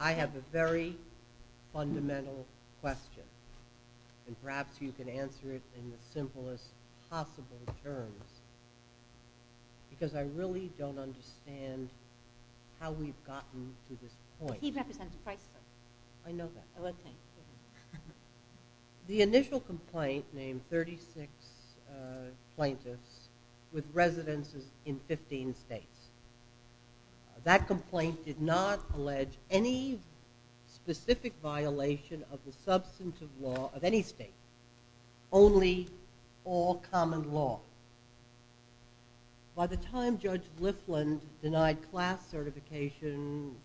I have a very fundamental question and perhaps you can answer it in the simplest possible terms because I really don't understand how we've gotten to this point. He represents Chrysler. I know that. The initial complaint named 36 plaintiffs with residences in 15 states. That complaint did not allege any specific violation of the substantive law of any state. Only all common law. By the time Judge Lifland denied class certification,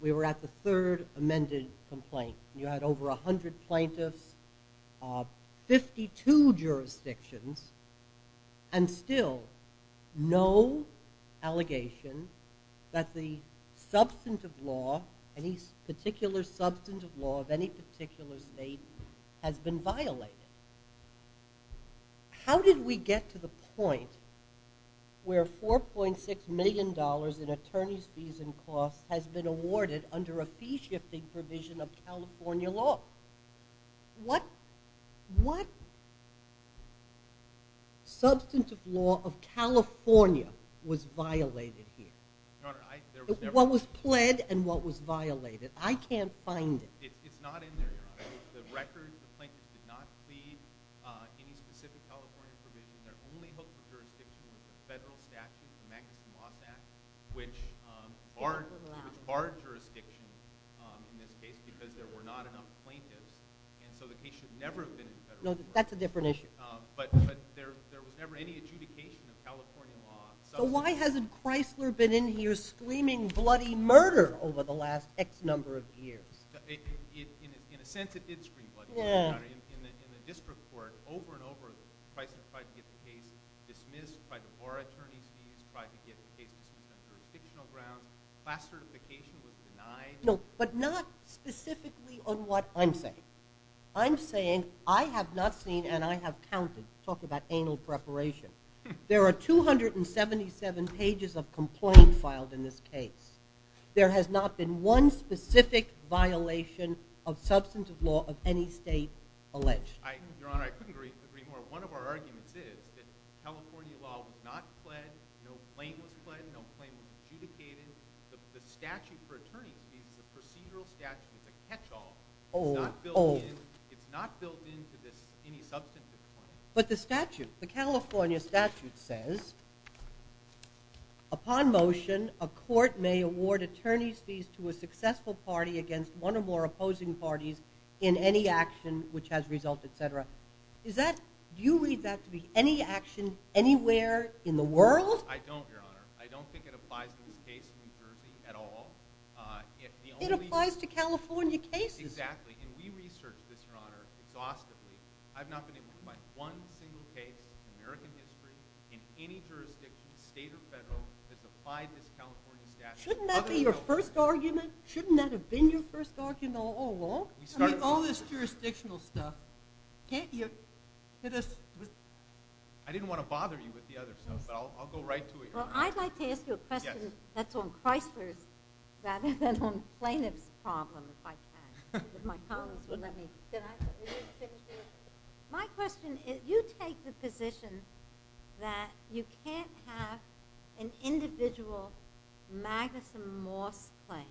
we were at the third amended complaint. You had over 100 plaintiffs, 52 jurisdictions, and still no allegation that the substantive law, any particular substantive law of any particular state has been violated. How did we get to the point where $4.6 million in attorney's fees and costs has been awarded under a fee-shifting provision of California law? What substantive law of California was violated here? What was pled and what was violated? I can't find it. It's not in there. The record, the plaintiff did not plead any specific California provision. They're only hooked to jurisdictions with federal statutes, the Maximum Law Act, which barred jurisdictions in this case because there were not enough plaintiffs. And so the case should never have been in federal court. No, that's a different issue. But there was never any adjudication of California law. So why hasn't Chrysler been in here screaming bloody murder over the last X number of years? In a sense, it did scream bloody murder. In the district court, over and over, Chrysler tried to get the case dismissed, tried to bar attorney's fees, tried to get the case dismissed under a fictional ground. Class certification was denied. No, but not specifically on what I'm saying. I'm saying I have not seen and I have counted. Talk about anal preparation. There are 277 pages of complaint filed in this case. There has not been one specific violation of substantive law of any state alleged. Your Honor, I couldn't agree more. One of our arguments is that California law was not pled, no claim was pled, no claim was adjudicated. The statute for attorney's fees is a procedural statute, a catch-all. It's not built into any substantive claim. But the statute, the California statute says upon motion, a court may award attorney's fees to a successful party against one or more opposing parties in any action which has resulted, et cetera. Do you read that to be any action anywhere in the world? I don't, Your Honor. I don't think it applies to this case in New Jersey at all. It applies to California cases. Exactly, and we researched this, Your Honor, exhaustively. I've not been able to find one single case in American history in any jurisdiction, state or federal, that defied this California statute. Shouldn't that be your first argument? Shouldn't that have been your first argument all along? I mean, all this jurisdictional stuff, can't you hit us with – I didn't want to bother you with the other stuff, but I'll go right to it, Your Honor. Well, I'd like to ask you a question that's on Chrysler's rather than on plaintiff's problems, if I can. If my colleagues will let me. My question is, you take the position that you can't have an individual Magnuson-Moss claim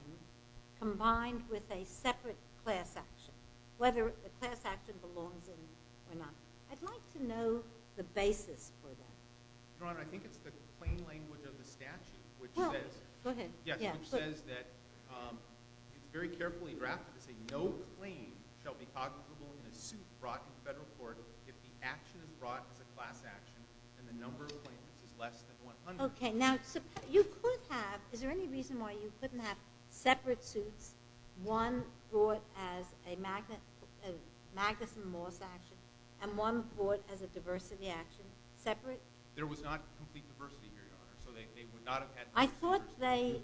combined with a separate class action, whether the class action belongs in or not. I'd like to know the basis for that. Your Honor, I think it's the plain language of the statute which says – Well, go ahead. No claim shall be cognizable in a suit brought to the federal court if the action is brought as a class action and the number of claims is less than 100. Okay. Now, you could have – is there any reason why you couldn't have separate suits, one brought as a Magnuson-Moss action and one brought as a diversity action, separate? There was not complete diversity here, Your Honor, so they would not have had – I thought they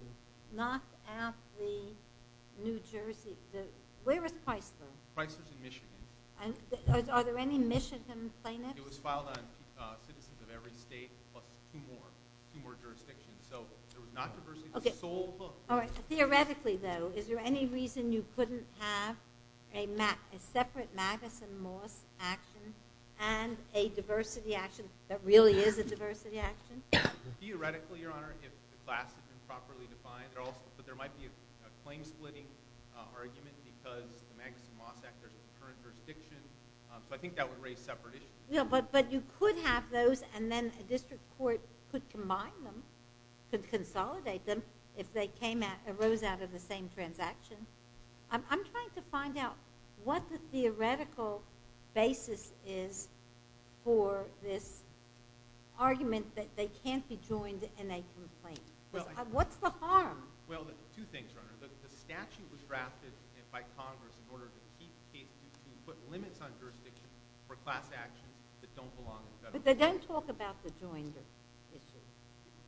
knocked out the New Jersey – where was Chrysler? Chrysler's in Michigan. Are there any Michigan plaintiffs? It was filed on citizens of every state plus two more jurisdictions, so there was not diversity. Theoretically, though, is there any reason you couldn't have a separate Magnuson-Moss action and a diversity action that really is a diversity action? Theoretically, Your Honor, if the class is improperly defined, but there might be a claim-splitting argument because the Magnuson-Moss action is a current jurisdiction, but I think that would raise separate issues. Yeah, but you could have those and then a district court could combine them, could consolidate them if they arose out of the same transaction. I'm trying to find out what the theoretical basis is for this argument that they can't be joined in a complaint. What's the harm? Well, two things, Your Honor. The statute was drafted by Congress in order to put limits on jurisdiction for class actions that don't belong to the federal government. But they don't talk about the joined issue.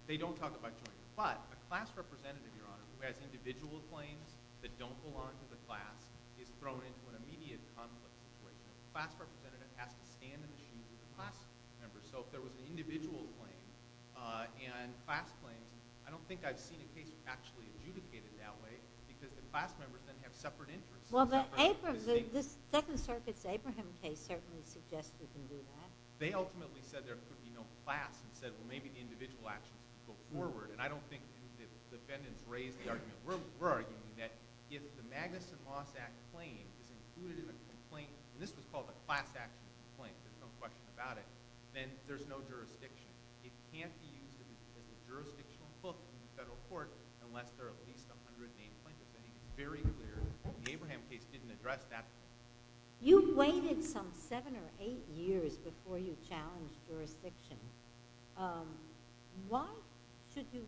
They don't talk about joined. But a class representative, Your Honor, who has individual claims that don't belong to the class is thrown into an immediate conflict with the class representative and has to stand in the shoes of the class member. So if there was an individual claim and a class claim, I don't think I've seen a case actually adjudicated that way because the class members then have separate interests. Well, the Second Circuit's Abraham case certainly suggests we can do that. They ultimately said there couldn't be no class and said, well, maybe the individual action should go forward. And I don't think the defendants raised the argument. We're arguing that if the Magnuson-Moss Act claim is included in a complaint, and this was called a class action complaint, there's no question about it, then there's no jurisdiction. It can't be used as a jurisdictional book in the federal court unless there are at least 100 named plaintiffs. And it's very clear the Abraham case didn't address that. You've waited some seven or eight years before you challenged jurisdiction. Why should you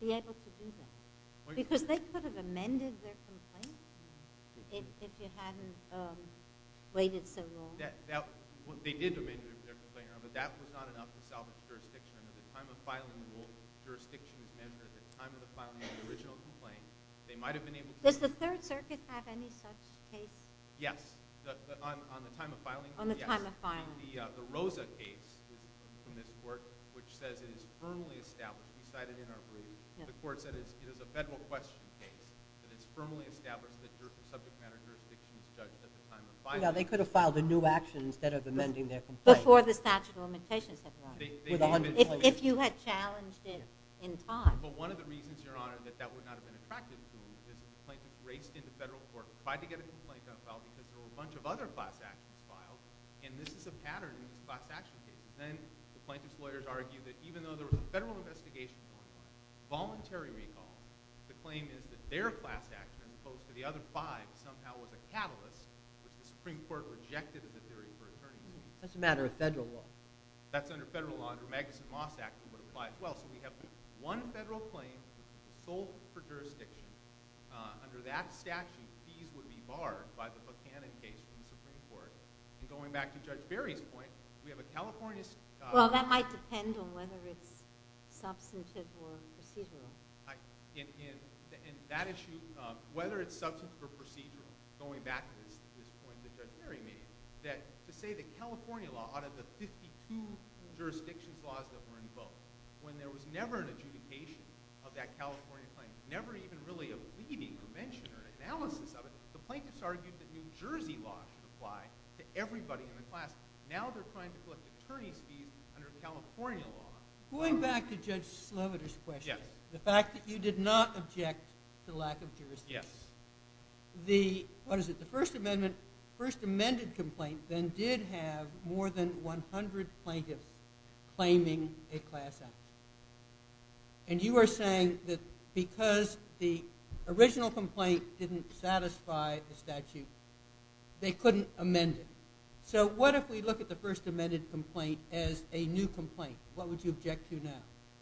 be able to do that? Because they could have amended their complaint if you hadn't waited so long. They did amend their complaint, but that was not enough to salvage jurisdiction. At the time of filing the rule, jurisdiction was measured. At the time of the filing of the original complaint, they might have been able to. Does the Third Circuit have any such case? Yes. On the time of filing? On the time of filing. The Rosa case from this court, which says it is firmly established, the court said it is a federal question case, that it's firmly established that subject matter jurisdiction is judged at the time of filing. They could have filed a new action instead of amending their complaint. Before the statute of limitations had run. If you had challenged it in time. But one of the reasons, Your Honor, that that would not have been attractive to them is the plaintiffs raced into federal court, tried to get a complaint done, filed, because there were a bunch of other class actions filed, and this is a pattern in class action cases. Then the plaintiffs' lawyers argued that even though there was a federal investigation going on, voluntary recall, the claim is that their class action, as opposed to the other five, somehow was a catalyst, which the Supreme Court rejected in the jury for attorney. That's a matter of federal law. That's under federal law. Under Magnuson-Moss action, it would apply as well. So we have one federal claim that was sold for jurisdiction. Under that statute, fees would be barred by the Buchanan case from the Supreme Court. And going back to Judge Berry's point, we have a California statute. Well, that might depend on whether it's substantive or procedural. In that issue, whether it's substantive or procedural, going back to this point that Judge Berry made, that to say that California law out of the 52 jurisdiction laws that were invoked, when there was never an adjudication of that California claim, never even really a pleading, a mention, or an analysis of it, the plaintiffs argued that New Jersey law should apply to everybody in the class. Now they're trying to collect attorney's fees under California law. Going back to Judge Sloviter's question, the fact that you did not object to lack of jurisdiction, the First Amendment complaint then did have more than 100 plaintiffs claiming a class action. And you are saying that because the original complaint didn't satisfy the statute, they couldn't amend it. So what if we look at the First Amendment complaint as a new complaint? What would you object to now?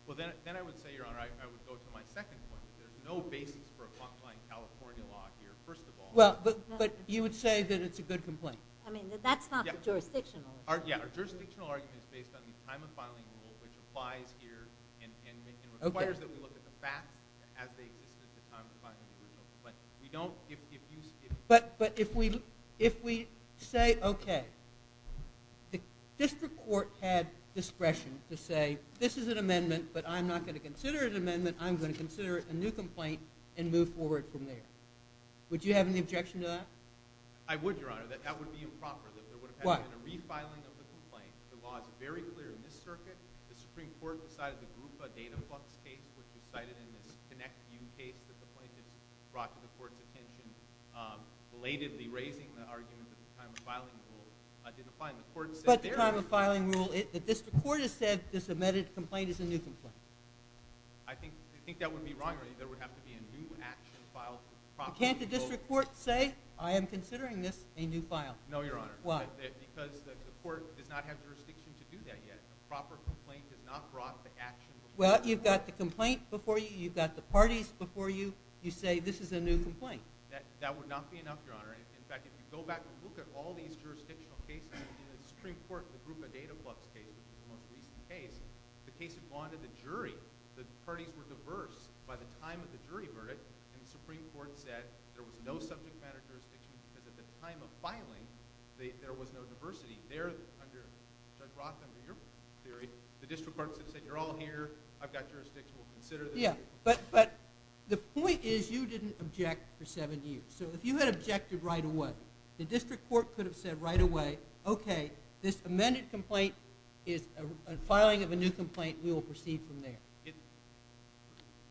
Well, then I would say, Your Honor, I would go to my second point. There's no basis for applying California law here, first of all. Well, but you would say that it's a good complaint. I mean, that's not jurisdictional. Yeah, our jurisdictional argument is based on the time of filing rule, which applies here and requires that we look at the facts as they exist at the time of filing the original complaint. But if we say, okay, the district court had discretion to say, this is an amendment, but I'm not going to consider it an amendment. I'm going to consider it a new complaint and move forward from there. Would you have any objection to that? I would, Your Honor. That would be improper. What? There would have had to have been a refiling of the complaint. The law is very clear in this circuit. The Supreme Court decided to group a data flux case, which was cited in this ConnectU case that the plaintiff brought to the court's attention, belatedly raising the argument that the time of filing rule did apply. But the time of filing rule, the district court has said this amended complaint is a new complaint. I think that would be wrong. There would have to be a new action filed properly. Can't the district court say, I am considering this a new file? No, Your Honor. Why? Because the court does not have jurisdiction to do that yet. A proper complaint is not brought to action. Well, you've got the complaint before you. You've got the parties before you. You say this is a new complaint. That would not be enough, Your Honor. In fact, if you go back and look at all these jurisdictional cases, in the Supreme Court, the group of data flux cases, the most recent case, the case that bonded the jury, the parties were diverse by the time of the jury verdict, and the Supreme Court said there was no subject matter jurisdiction because at the time of filing, there was no diversity there. Judge Roth, under your theory, the district court could have said, You're all here. I've got jurisdiction. We'll consider this. Yeah, but the point is you didn't object for seven years. So if you had objected right away, the district court could have said right away, Okay, this amended complaint is a filing of a new complaint. We will proceed from there.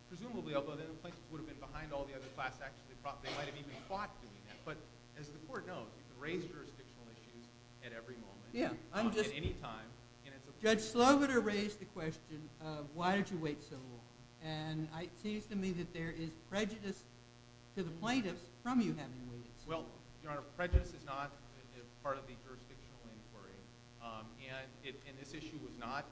Presumably, although then the plaintiff would have been behind all the other class actions, they might have even fought doing that. But as the court knows, you can raise jurisdictional issues at every moment at any time. Judge Sloboda raised the question of why did you wait so long, and it seems to me that there is prejudice to the plaintiffs from you having waited so long. Well, Your Honor, prejudice is not part of the jurisdictional inquiry, and this issue was not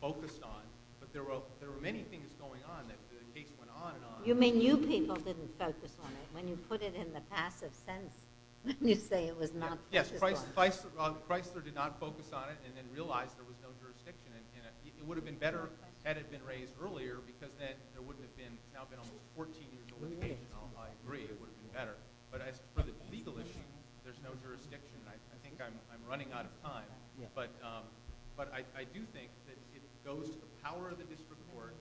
focused on, but there were many things going on that the case went on and on. You mean you people didn't focus on it. When you put it in the passive sentence, you say it was not focused on. Yes, Chrysler did not focus on it and then realized there was no jurisdiction in it. It would have been better had it been raised earlier because then there wouldn't have now been almost 14 years of litigation. I agree it would have been better. But as for the legal issue, there's no jurisdiction. I think I'm running out of time. But I do think that it goes to the power of the district court,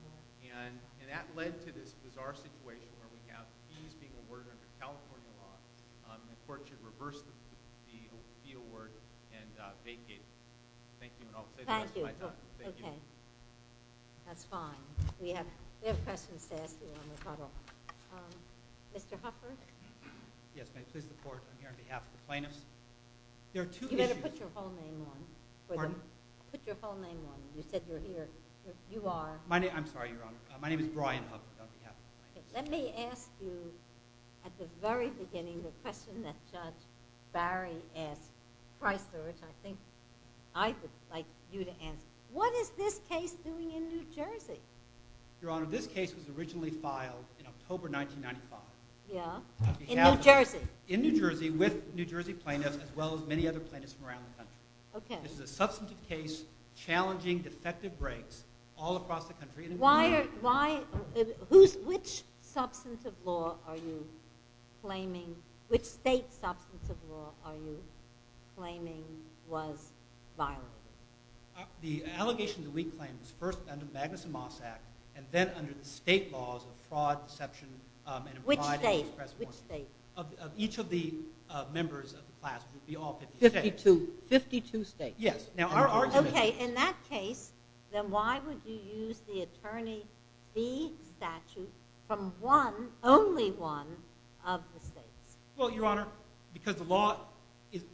and that led to this bizarre situation where we have fees being awarded under California law and the court should reverse the fee award and vacate it. Thank you. Thank you. Okay. That's fine. We have questions to ask you on the title. Mr. Hufford? Yes, ma'am. This is the court. I'm here on behalf of the plaintiffs. There are two issues. You better put your full name on it. Pardon? Put your full name on it. You said you're here. I'm sorry, Your Honor. My name is Brian Hufford on behalf of the plaintiffs. Let me ask you, at the very beginning, the question that Judge Barry asked Chrysler, which I think I would like you to answer. What is this case doing in New Jersey? Your Honor, this case was originally filed in October 1995. In New Jersey? In New Jersey with New Jersey plaintiffs as well as many other plaintiffs from around the country. Okay. This is a substantive case challenging defective breaks all across the country. Why? Which substantive law are you claiming, which state substantive law are you claiming was violated? The allegation that we claim was first under the Magnuson-Moss Act and then under the state laws of fraud, deception, and improvided express warrant. Which state? Of each of the members of the class. It would be all 52. 52 states. Yes. Okay. In that case, then why would you use the attorney's fee statute from one, only one, of the states? Well, Your Honor, because the law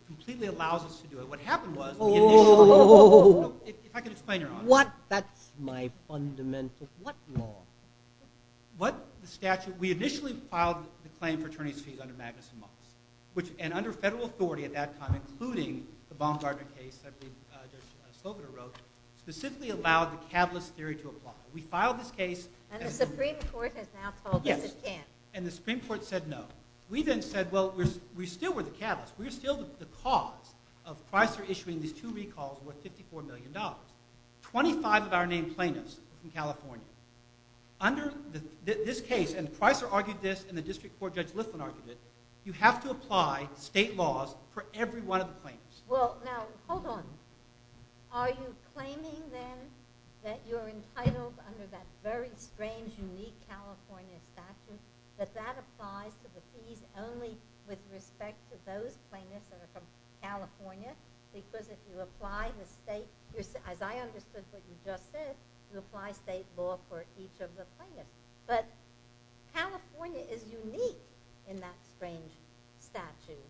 completely allows us to do it. What happened was we initially... If I could explain, Your Honor. What? That's my fundamental... What law? What statute? We initially filed the claim for attorney's fees under Magnuson-Moss, and under federal authority at that time, including the Baumgartner case that Judge Sloboda wrote, specifically allowed the catalyst theory to apply. We filed this case... And the Supreme Court has now told us it can't. And the Supreme Court said no. We then said, well, we still were the catalyst. We're still the cause of Pricer issuing these two recalls worth $54 million. Twenty-five of our named plaintiffs in California, under this case, and Pricer argued this and the District Court Judge Lithman argued it, you have to apply state laws for every one of the plaintiffs. Well, now, hold on. Are you claiming, then, that you're entitled under that very strange, unique California statute, that that applies to the fees only with respect to those plaintiffs that are from California? Because if you apply the state... As I understood what you just said, you apply state law for each of the plaintiffs. But California is unique in that strange statute.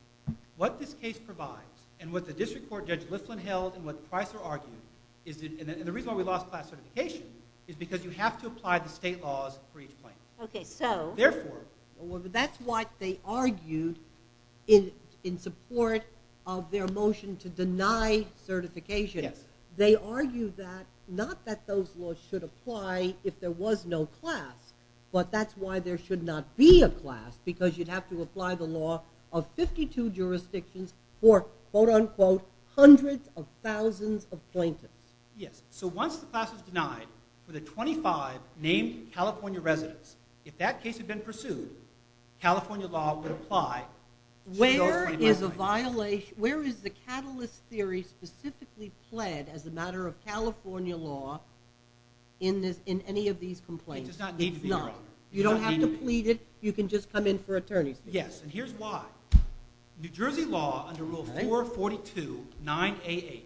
What this case provides, and what the District Court Judge Lithman held, and what Pricer argued, and the reason why we lost class certification, is because you have to apply the state laws for each plaintiff. Therefore... That's why they argued, in support of their motion to deny certification, they argued that, not that those laws should apply if there was no class, but that's why there should not be a class, because you'd have to apply the law of 52 jurisdictions for, quote-unquote, hundreds of thousands of plaintiffs. Yes, so once the class is denied, for the 25 named California residents, if that case had been pursued, California law would apply to those 25. Where is the catalyst theory specifically pled as a matter of California law in any of these complaints? It does not need to be, Your Honor. You don't have to plead it. You can just come in for attorney's fees. Yes, and here's why. New Jersey law, under Rule 442, 9A8,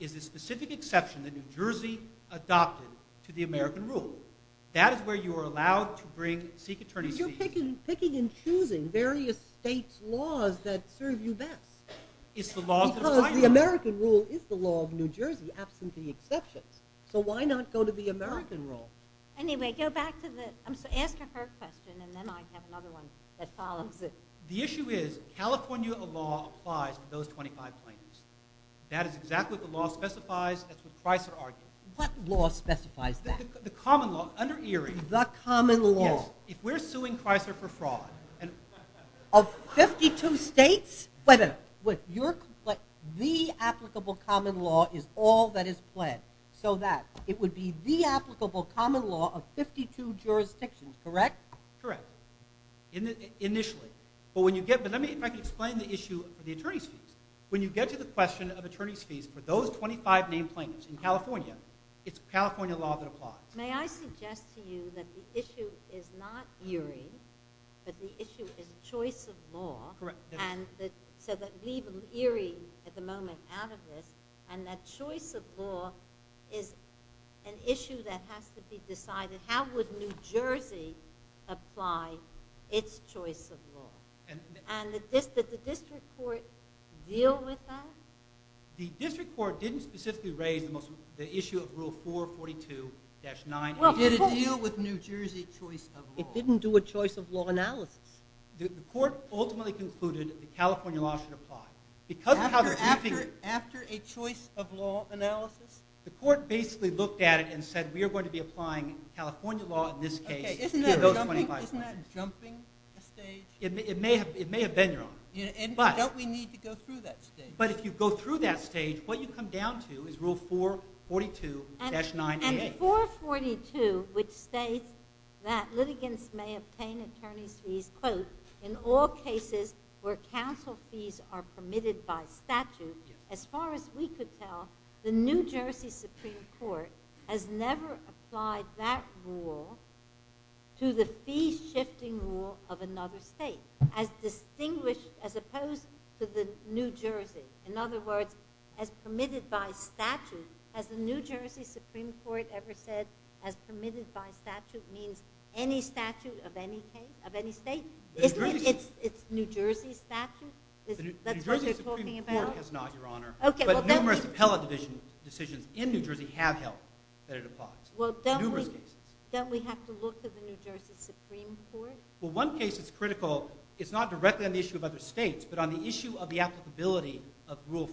is a specific exception that New Jersey adopted to the American rule. That is where you are allowed to seek attorney's fees. Because you're picking and choosing various states' laws that serve you best. Because the American rule is the law of New Jersey, absent the exceptions. So why not go to the American rule? Anyway, go back to the... I'm sorry, ask her her question, and then I have another one that follows it. The issue is California law applies to those 25 plaintiffs. That is exactly what the law specifies. That's what Chrysler argued. What law specifies that? The common law, under Erie. The common law. Yes, if we're suing Chrysler for fraud, of 52 states? Wait a minute. The applicable common law is all that is pledged, so that it would be the applicable common law of 52 jurisdictions, correct? Correct, initially. But let me explain the issue of the attorney's fees. When you get to the question of attorney's fees for those 25 named plaintiffs in California, it's California law that applies. May I suggest to you that the issue is not Erie, but the issue is choice of law? Correct. So leave Erie, at the moment, out of this, and that choice of law is an issue that has to be decided. How would New Jersey apply its choice of law? And did the district court deal with that? The district court didn't specifically raise the issue of Rule 442-9. It didn't deal with New Jersey choice of law. It didn't do a choice of law analysis. The court ultimately concluded that California law should apply. After a choice of law analysis? The court basically looked at it and said, we are going to be applying California law in this case to those 25 plaintiffs. Isn't that jumping a stage? It may have been, Your Honor. And don't we need to go through that stage? But if you go through that stage, what you come down to is Rule 442-9-8. Rule 442, which states that litigants may obtain attorney's fees, quote, in all cases where counsel fees are permitted by statute, as far as we could tell, the New Jersey Supreme Court has never applied that rule to the fee-shifting rule of another state, as opposed to the New Jersey. In other words, as permitted by statute, has the New Jersey Supreme Court ever said as permitted by statute means any statute of any state? It's New Jersey statute? That's what they're talking about? The New Jersey Supreme Court has not, Your Honor. But numerous appellate decisions in New Jersey have held that it applies. Numerous cases. Don't we have to look to the New Jersey Supreme Court? Well, one case that's critical is not directly on the issue of other states, but on the issue of the applicability of Rule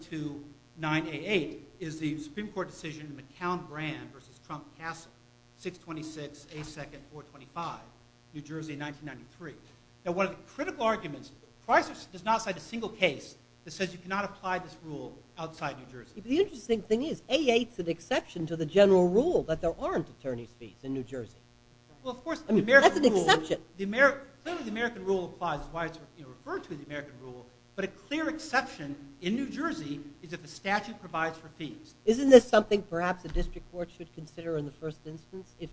442-9-8-8, is the Supreme Court decision of McCown-Brand versus Trump-Cassell, 626-A2-425, New Jersey, 1993. Now, one of the critical arguments, Price does not cite a single case that says you cannot apply this rule outside New Jersey. The interesting thing is, A8's an exception to the general rule that there aren't attorney's fees in New Jersey. Well, of course, the American rule. That's an exception. Clearly, the American rule applies. That's why it's referred to in the American rule. But a clear exception in New Jersey is that the statute provides for fees. Isn't this something, perhaps, the district court should consider in the first instance, if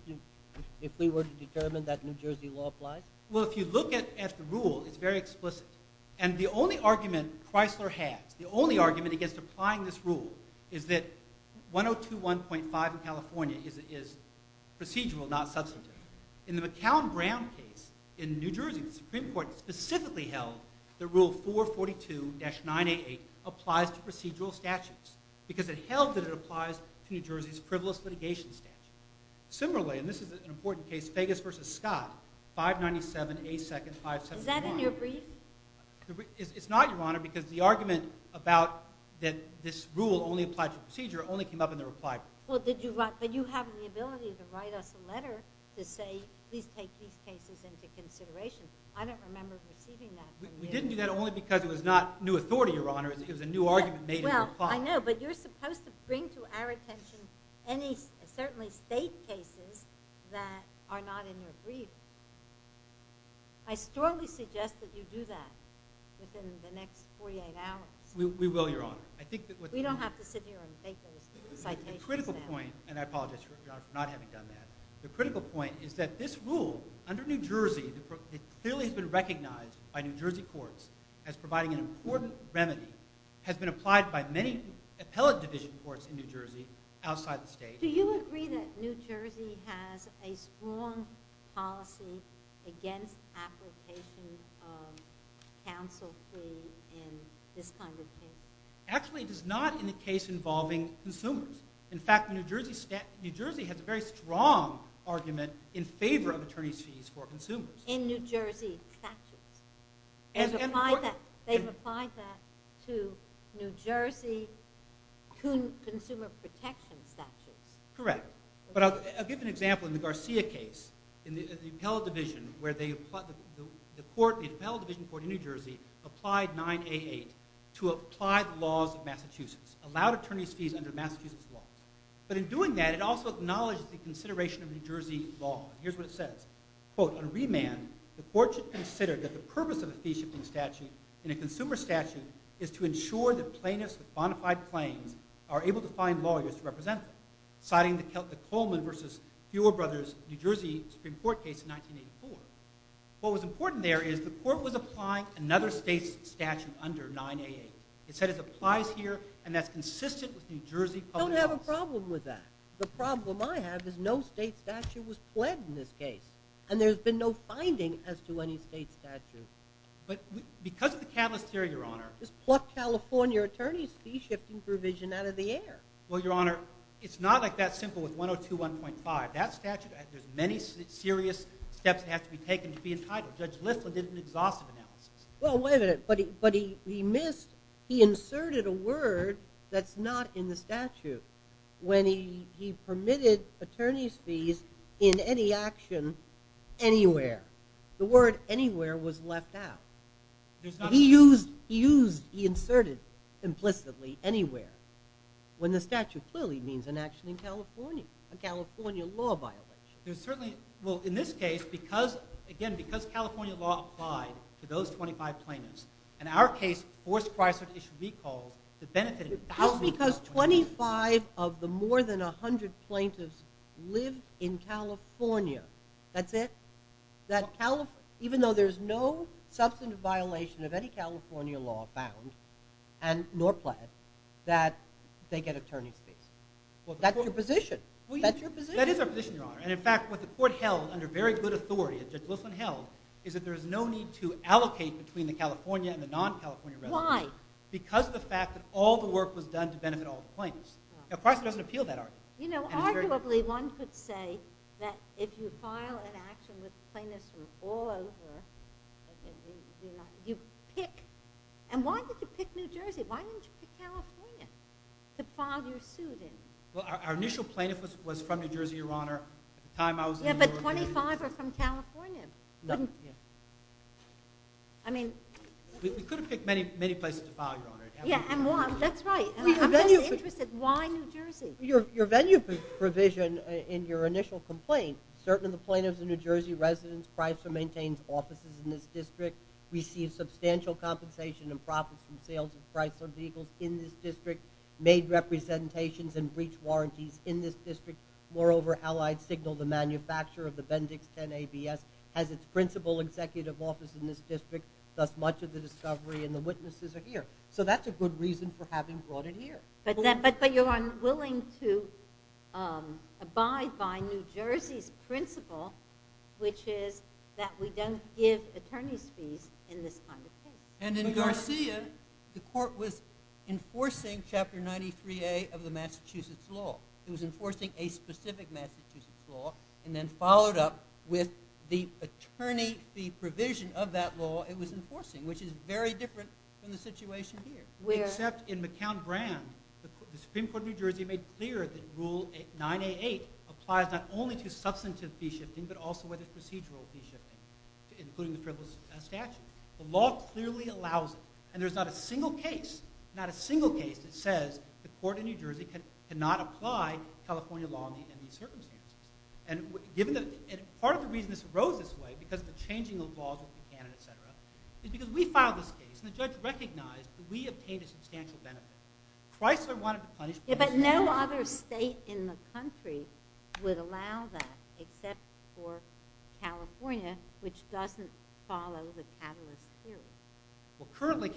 we were to determine that New Jersey law applies? Well, if you look at the rule, it's very explicit. And the only argument Pricelar has, the only argument against applying this rule, is that 102-1.5 in California is procedural, not substantive. In the McCown-Brand case in New Jersey, the Supreme Court specifically held that Rule 442-988 applies to procedural statutes, because it held that it applies to New Jersey's frivolous litigation statute. Similarly, and this is an important case, Fegus v. Scott, 597A2-571. Is that in your brief? It's not, Your Honor, because the argument about that this rule only applies to procedure only came up in the reply brief. But you have the ability to write us a letter to say, please take these cases into consideration. I don't remember receiving that from you. We didn't do that only because it was not new authority, Your Honor. It was a new argument made in reply. Well, I know. But you're supposed to bring to our attention any, certainly, state cases that are not in your brief. I strongly suggest that you do that within the next 48 hours. We will, Your Honor. We don't have to sit here and take those citations now. The critical point, and I apologize for not having done that, the critical point is that this rule, under New Jersey, it clearly has been recognized by New Jersey courts as providing an important remedy, has been applied by many appellate division courts in New Jersey outside the state. Do you agree that New Jersey has a strong policy against application of counsel free in this kind of case? Actually, it is not in the case involving consumers. In fact, New Jersey has a very strong argument in favor of attorney's fees for consumers. In New Jersey statutes. They've applied that to New Jersey consumer protection statutes. Correct. But I'll give an example. In the Garcia case, the appellate division court in New Jersey applied 9A8 to apply the laws of Massachusetts, allowed attorney's fees under Massachusetts law. But in doing that, it also acknowledged the consideration of New Jersey law. Here's what it says. Quote, on remand, the court should consider that the purpose of a fee-shifting statute in a consumer statute is to ensure that plaintiffs with bona fide claims are able to find lawyers to represent them, citing the Coleman versus Buell brothers New Jersey Supreme Court case in 1984. What was important there is the court was applying another state's statute under 9A8. It said it applies here, and that's consistent with New Jersey public laws. I don't have a problem with that. The problem I have is no state statute was pled in this case. And there's been no finding as to any state statute. But because of the catalyst here, Your Honor. Just pluck California attorney's fee-shifting provision out of the air. Well, Your Honor, it's not like that simple with 102-1.5. That statute has many serious steps that have to be taken to be entitled. Judge Listler did an exhaustive analysis. Well, wait a minute. But he missed. He inserted a word that's not in the statute. When he permitted attorney's fees in any action anywhere, the word anywhere was left out. He used, he inserted implicitly anywhere, when the statute clearly means an action in California, a California law violation. Well, in this case, again, because California law applied to those 25 plaintiffs, in our case, forced Chrysler to issue recalls that benefited thousands of California plaintiffs. Just because 25 of the more than 100 plaintiffs live in California, that's it? Even though there's no substantive violation of any California law found, nor pled, that they get attorney's fees? Well, that's your position. That's your position. That is our position, Your Honor. And in fact, what the court held under very good authority, that Judge Wilson held, is that there's no need to allocate between the California and the non-California residents. Why? Because of the fact that all the work was done to benefit all the plaintiffs. Now, Chrysler doesn't appeal that argument. You know, arguably, one could say that if you file an action with plaintiffs from all over, you pick. And why did you pick New Jersey? Well, our initial plaintiff was from New Jersey, Your Honor. Yeah, but 25 are from California. No. I mean. We could have picked many, many places to file, Your Honor. Yeah, and why? That's right. I'm just interested. Why New Jersey? Your venue provision in your initial complaint, certain of the plaintiffs and New Jersey residents, Chrysler maintains offices in this district, receives substantial compensation and profits from sales of Chrysler vehicles in this district, made representations and breach warranties in this district. Moreover, Allied Signal, the manufacturer of the Bendix 10 ABS, has its principal executive office in this district. Thus, much of the discovery and the witnesses are here. So that's a good reason for having brought it here. But you're unwilling to abide by New Jersey's principle, which is that we don't give attorneys fees in this kind of case. And in Garcia, the court was enforcing Chapter 93A of the Massachusetts law. It was enforcing a specific Massachusetts law, and then followed up with the attorney fee provision of that law it was enforcing, which is very different from the situation here. Except in McCown Brand, the Supreme Court of New Jersey made clear that Rule 9A8 applies not only to substantive fee shifting, but also whether procedural fee shifting, including the frivolous statute. The law clearly allows it. And there's not a single case, not a single case, that says the court in New Jersey cannot apply California law in these circumstances. And part of the reason this arose this way, because of the changing of laws in Canada, et cetera, is because we filed this case, and the judge recognized that we obtained a substantial benefit. Chrysler wanted to punish Chrysler. But no other state in the country would allow that, except for California, which doesn't follow the Catalyst Theory. Well, currently,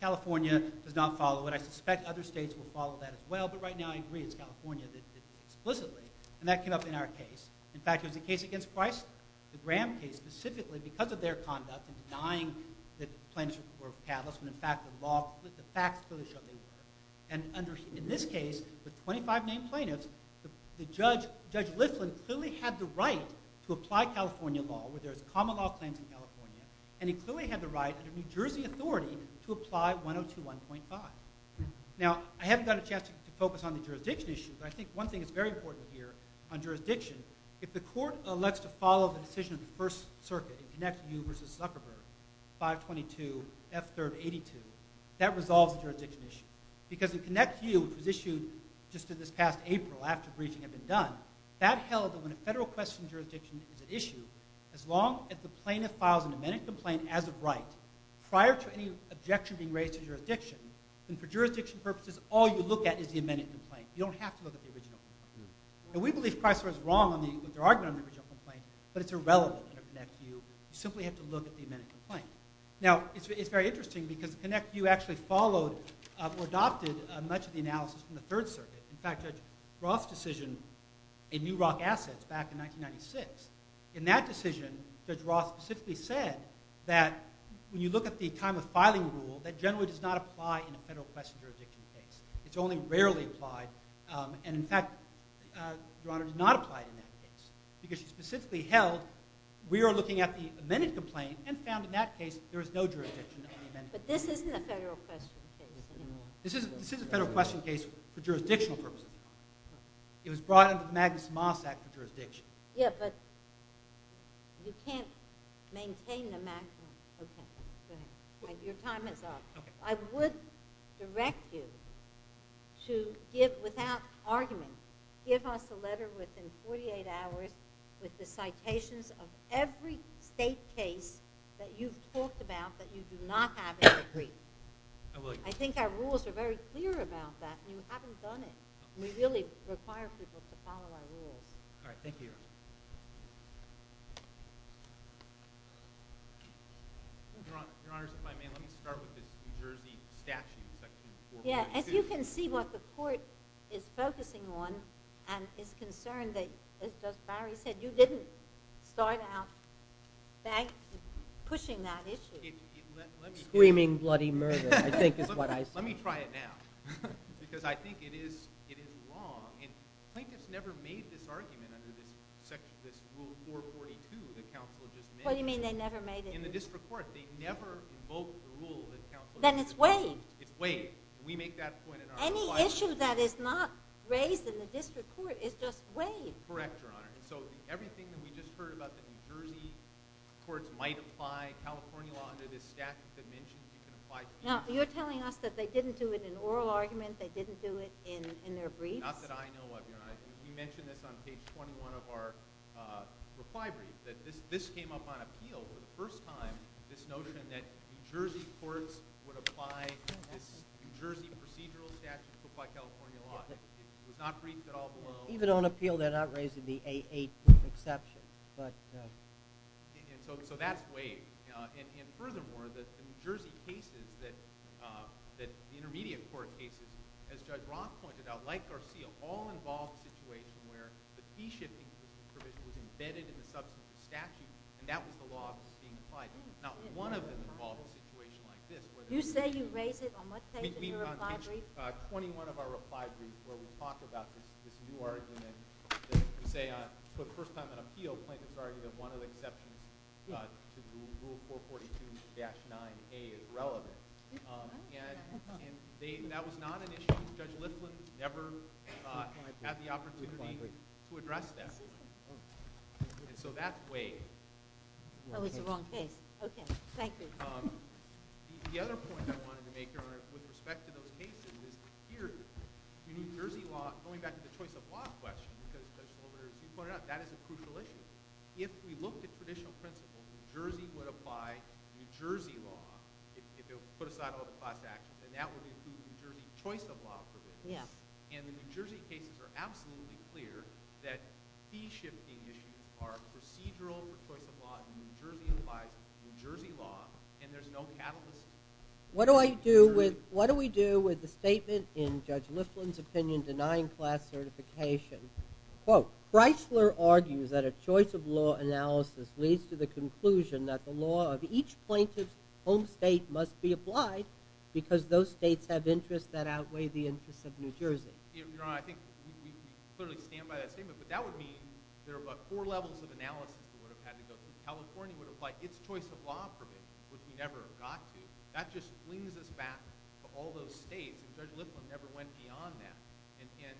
California does not follow it. So I suspect other states will follow that as well. But right now, I agree. It's California that did it explicitly. And that came up in our case. In fact, it was a case against Chrysler, the Graham case, specifically because of their conduct in denying that plaintiffs were Catalysts, when in fact the facts clearly showed they were. And in this case, with 25 named plaintiffs, Judge Liflin clearly had the right to apply California law, whether it's common law claims in California. And he clearly had the right, under New Jersey authority, to apply 102.1.5. Now, I haven't got a chance to focus on the jurisdiction issue. But I think one thing is very important here on jurisdiction. If the court elects to follow the decision of the First Circuit in Connect U v. Zuckerberg, 522 F-382, that resolves the jurisdiction issue. Because in Connect U, which was issued just in this past April after breaching had been done, that held that when a federal question in jurisdiction is at issue, as long as the plaintiff files an amended complaint as of right, prior to any objection being raised to jurisdiction, then for jurisdiction purposes, all you look at is the amended complaint. You don't have to look at the original complaint. And we believe Chrysler is wrong on the argument on the original complaint. But it's irrelevant under Connect U. You simply have to look at the amended complaint. Now, it's very interesting, because Connect U actually followed or adopted much of the analysis from the Third Circuit. In fact, Judge Roth's decision in New Rock Assets back in 1996, in that decision, Judge Roth specifically said that when you look at the time of filing rule, that generally does not apply in a federal question jurisdiction case. It's only rarely applied. And in fact, Your Honor, it did not apply in that case. Because she specifically held we are looking at the amended complaint and found in that case there is no jurisdiction on the amended complaint. But this isn't a federal question case anymore. This is a federal question case for jurisdictional purposes. It was brought under the Magnus Moss Act for jurisdiction. Yeah, but you can't maintain the Magnus. OK. Go ahead. Your time is up. I would direct you to give, without argument, give us a letter within 48 hours with the citations of every state case that you've talked about that you do not have a decree. I will. I think our rules are very clear about that. And you haven't done it. And we really require people to follow our rules. All right. Thank you, Your Honor. Your Honor, if I may, let me start with this New Jersey statute section 4.2. Yeah. As you can see, what the court is focusing on and is concerned that, as Barry said, you didn't start out pushing that issue. Screaming bloody murder, I think, is what I see. Let me try it now. Because I think it is wrong. And plaintiffs never made this argument under this rule 4.42 that counsel just mentioned. What do you mean they never made it? In the district court. They never invoked the rule that counsel just mentioned. Then it's waived. It's waived. We make that point in our requirements. Any issue that is not raised in the district court is just waived. Correct, Your Honor. So everything that we just heard about the New Jersey courts might apply California law under this statute that I mentioned, you can apply to New Jersey. Now, you're telling us that they didn't do it in oral arguments? They didn't do it in their briefs? Not that I know of, Your Honor. We mentioned this on page 21 of our reply brief, that this came up on appeal for the first time, this notion that New Jersey courts would apply this New Jersey procedural statute to apply California law. It was not briefed at all below. Even on appeal, they're not raising the A8 exception. So that's waived. And furthermore, the New Jersey cases, the intermediate court cases, as Judge Roth pointed out, like Garcia, all involved a situation where the P-shifting provision was embedded in the substance of the statute. And that was the law that was being applied. Not one of them involved a situation like this. You say you raised it on what page of your reply brief? On page 21 of our reply brief, where we talk about this new argument that we say, for the first time on appeal, plaintiffs argued that one of the exceptions to Rule 442-9A is relevant. And that was not an issue that Judge Lifflin never had the opportunity to address that. And so that's waived. Oh, it's the wrong page. OK. Thank you. The other point I wanted to make, Your Honor, with respect to those cases, is here, New Jersey law, going back to the choice of law question, because as you pointed out, that is a crucial issue. If we look at traditional principles, New Jersey would apply New Jersey law if it would put aside all the class actions. And that would include New Jersey choice of law provisions. And the New Jersey cases are absolutely clear that key shifting issues are procedural for choice of law, and New Jersey applies New Jersey law, and there's no catalyst. What do we do with the statement in Judge Lifflin's opinion denying class certification? Quote, Breisler argues that a choice of law analysis leads to the conclusion that the law of each plaintiff's home state must be applied because those states have interests that outweigh the interests of New Jersey. Your Honor, I think we clearly stand by that statement. But that would mean there are about four levels of analysis we would have had to go through. California would apply its choice of law provisions, which we never got to. That just brings us back to all those states. Judge Lifflin never went beyond that. And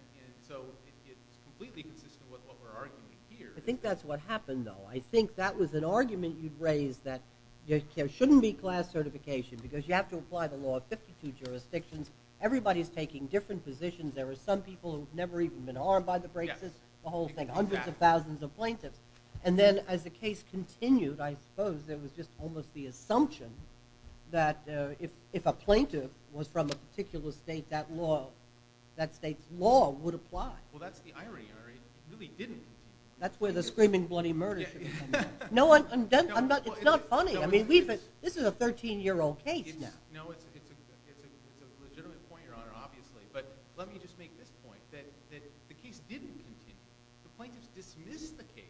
so it's completely consistent with what we're arguing here. I think that's what happened, though. I think that was an argument you've raised that there shouldn't be class certification, because you have to apply the law of 52 jurisdictions. Everybody's taking different positions. There are some people who've never even been armed by the Brakes system, the whole thing, hundreds of thousands of plaintiffs. And then as the case continued, I suppose there was just almost the assumption that if a plaintiff was from a particular state, that state's law would apply. Well, that's the irony, Your Honor. It really didn't. That's where the screaming bloody murder should have come in. No, it's not funny. I mean, this is a 13-year-old case now. No, it's a legitimate point, Your Honor, obviously. But let me just make this point, that the case didn't continue. The plaintiffs dismissed the case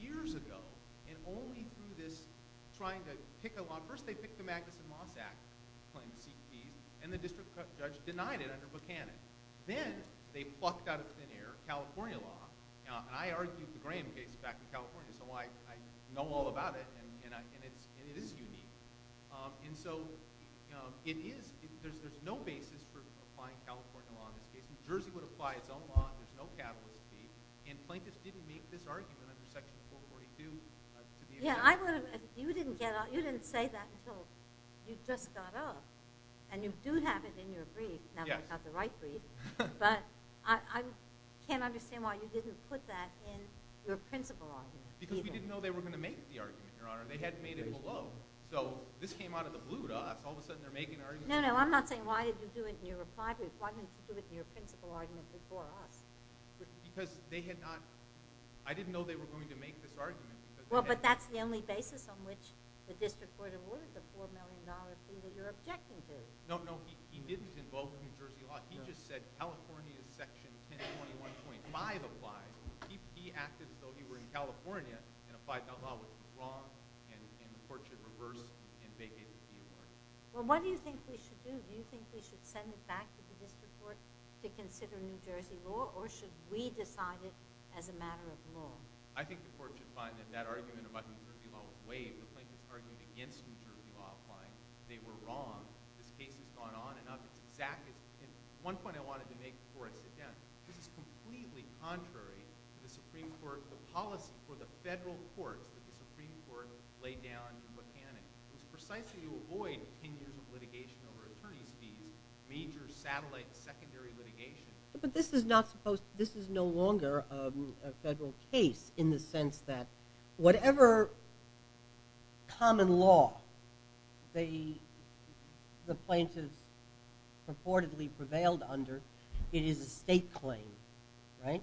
years ago, and only through this trying to pick a law. First, they picked the Magnuson Moss Act claim to seek peace. And the district judge denied it under Buchanan. Then they plucked out of thin air California law. And I argued the Graham case back in California, so I know all about it. And it is unique. And so there's no basis for applying California law in this case. New Jersey would apply its own law. There's no catalyst to be. And plaintiffs didn't make this argument under Section 442. Yeah, you didn't say that until you just got up. And you do have it in your brief, not without the right brief. But I can't understand why you didn't put that in your principal argument. Because we didn't know they were going to make the argument, Your Honor. They had made it below. So this came out of the blue to us. All of a sudden, they're making an argument. No, no. I'm not saying why didn't you do it in your reply brief. Why didn't you do it in your principal argument before us? Because they had not. I didn't know they were going to make this argument. Well, but that's the only basis on which the district court awarded the $4 million fee that you're objecting to. No, no. He didn't invoke New Jersey law. He just said California Section 1021.5 applies. He acted as though he were in California and applied that law. Which is wrong. And the court should reverse and vacate the case. Well, what do you think we should do? Do you think we should send it back to the district court to consider New Jersey law? Or should we decide it as a matter of law? I think the court should find that that argument about New Jersey law was waived. The plaintiffs argued against New Jersey law by they were wrong. This case has gone on and on. It's exactly. And one point I wanted to make before I sit down. This is completely contrary to the Supreme Court, the policy for the federal court. The Supreme Court laid down the mechanics. It's precisely to avoid 10 years of litigation over attorney's fees, major satellite, secondary litigation. But this is no longer a federal case in the sense that whatever common law the plaintiffs purportedly prevailed under, it is a state claim, right?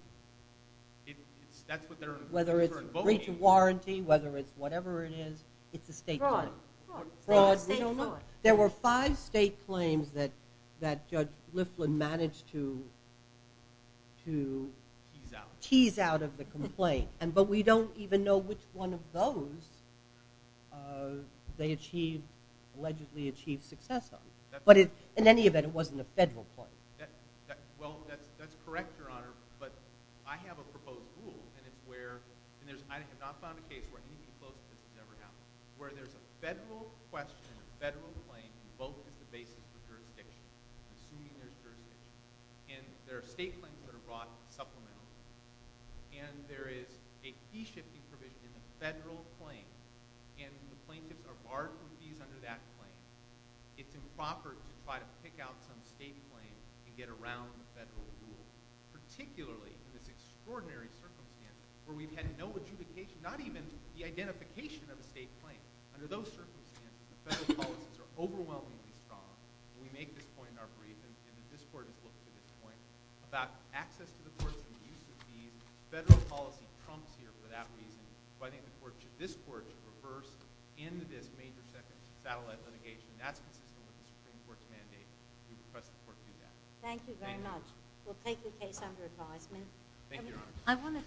That's what they're referring to. Whether it's breach of warranty, whether it's whatever it is, it's a state claim. Fraud. Fraud. It's a state claim. There were five state claims that Judge Liflin managed to tease out of the complaint. But we don't even know which one of those they allegedly achieved success on. But in any event, it wasn't a federal claim. Well, that's correct, Your Honor. But I have a proposed rule, and it's where, and I have not found a case where any proposal has never happened, where there's a federal question, a federal claim, both at the basis of jurisdiction, assuming there's jurisdiction. And there are state claims that are brought in supplementary. And there is a fee-shifting provision, a federal claim. And the plaintiffs are barred from fees under that claim. It's improper to try to pick out some state claim and get around the federal rule. Particularly in this extraordinary circumstance where we've had no adjudication, not even the identification of a state claim. Under those circumstances, the federal policies are overwhelmingly strong. And we make this point in our brief. And this court has looked at this point about access to the courts and the use of fees. Federal policy trumps here for that reason. So I think the court should, this court, reverse in this major settlement litigation. That's consistent with the Supreme Court's mandate. We would press the court to do that. Thank you very much. We'll take the case under advisement. Thank you, Your Honor.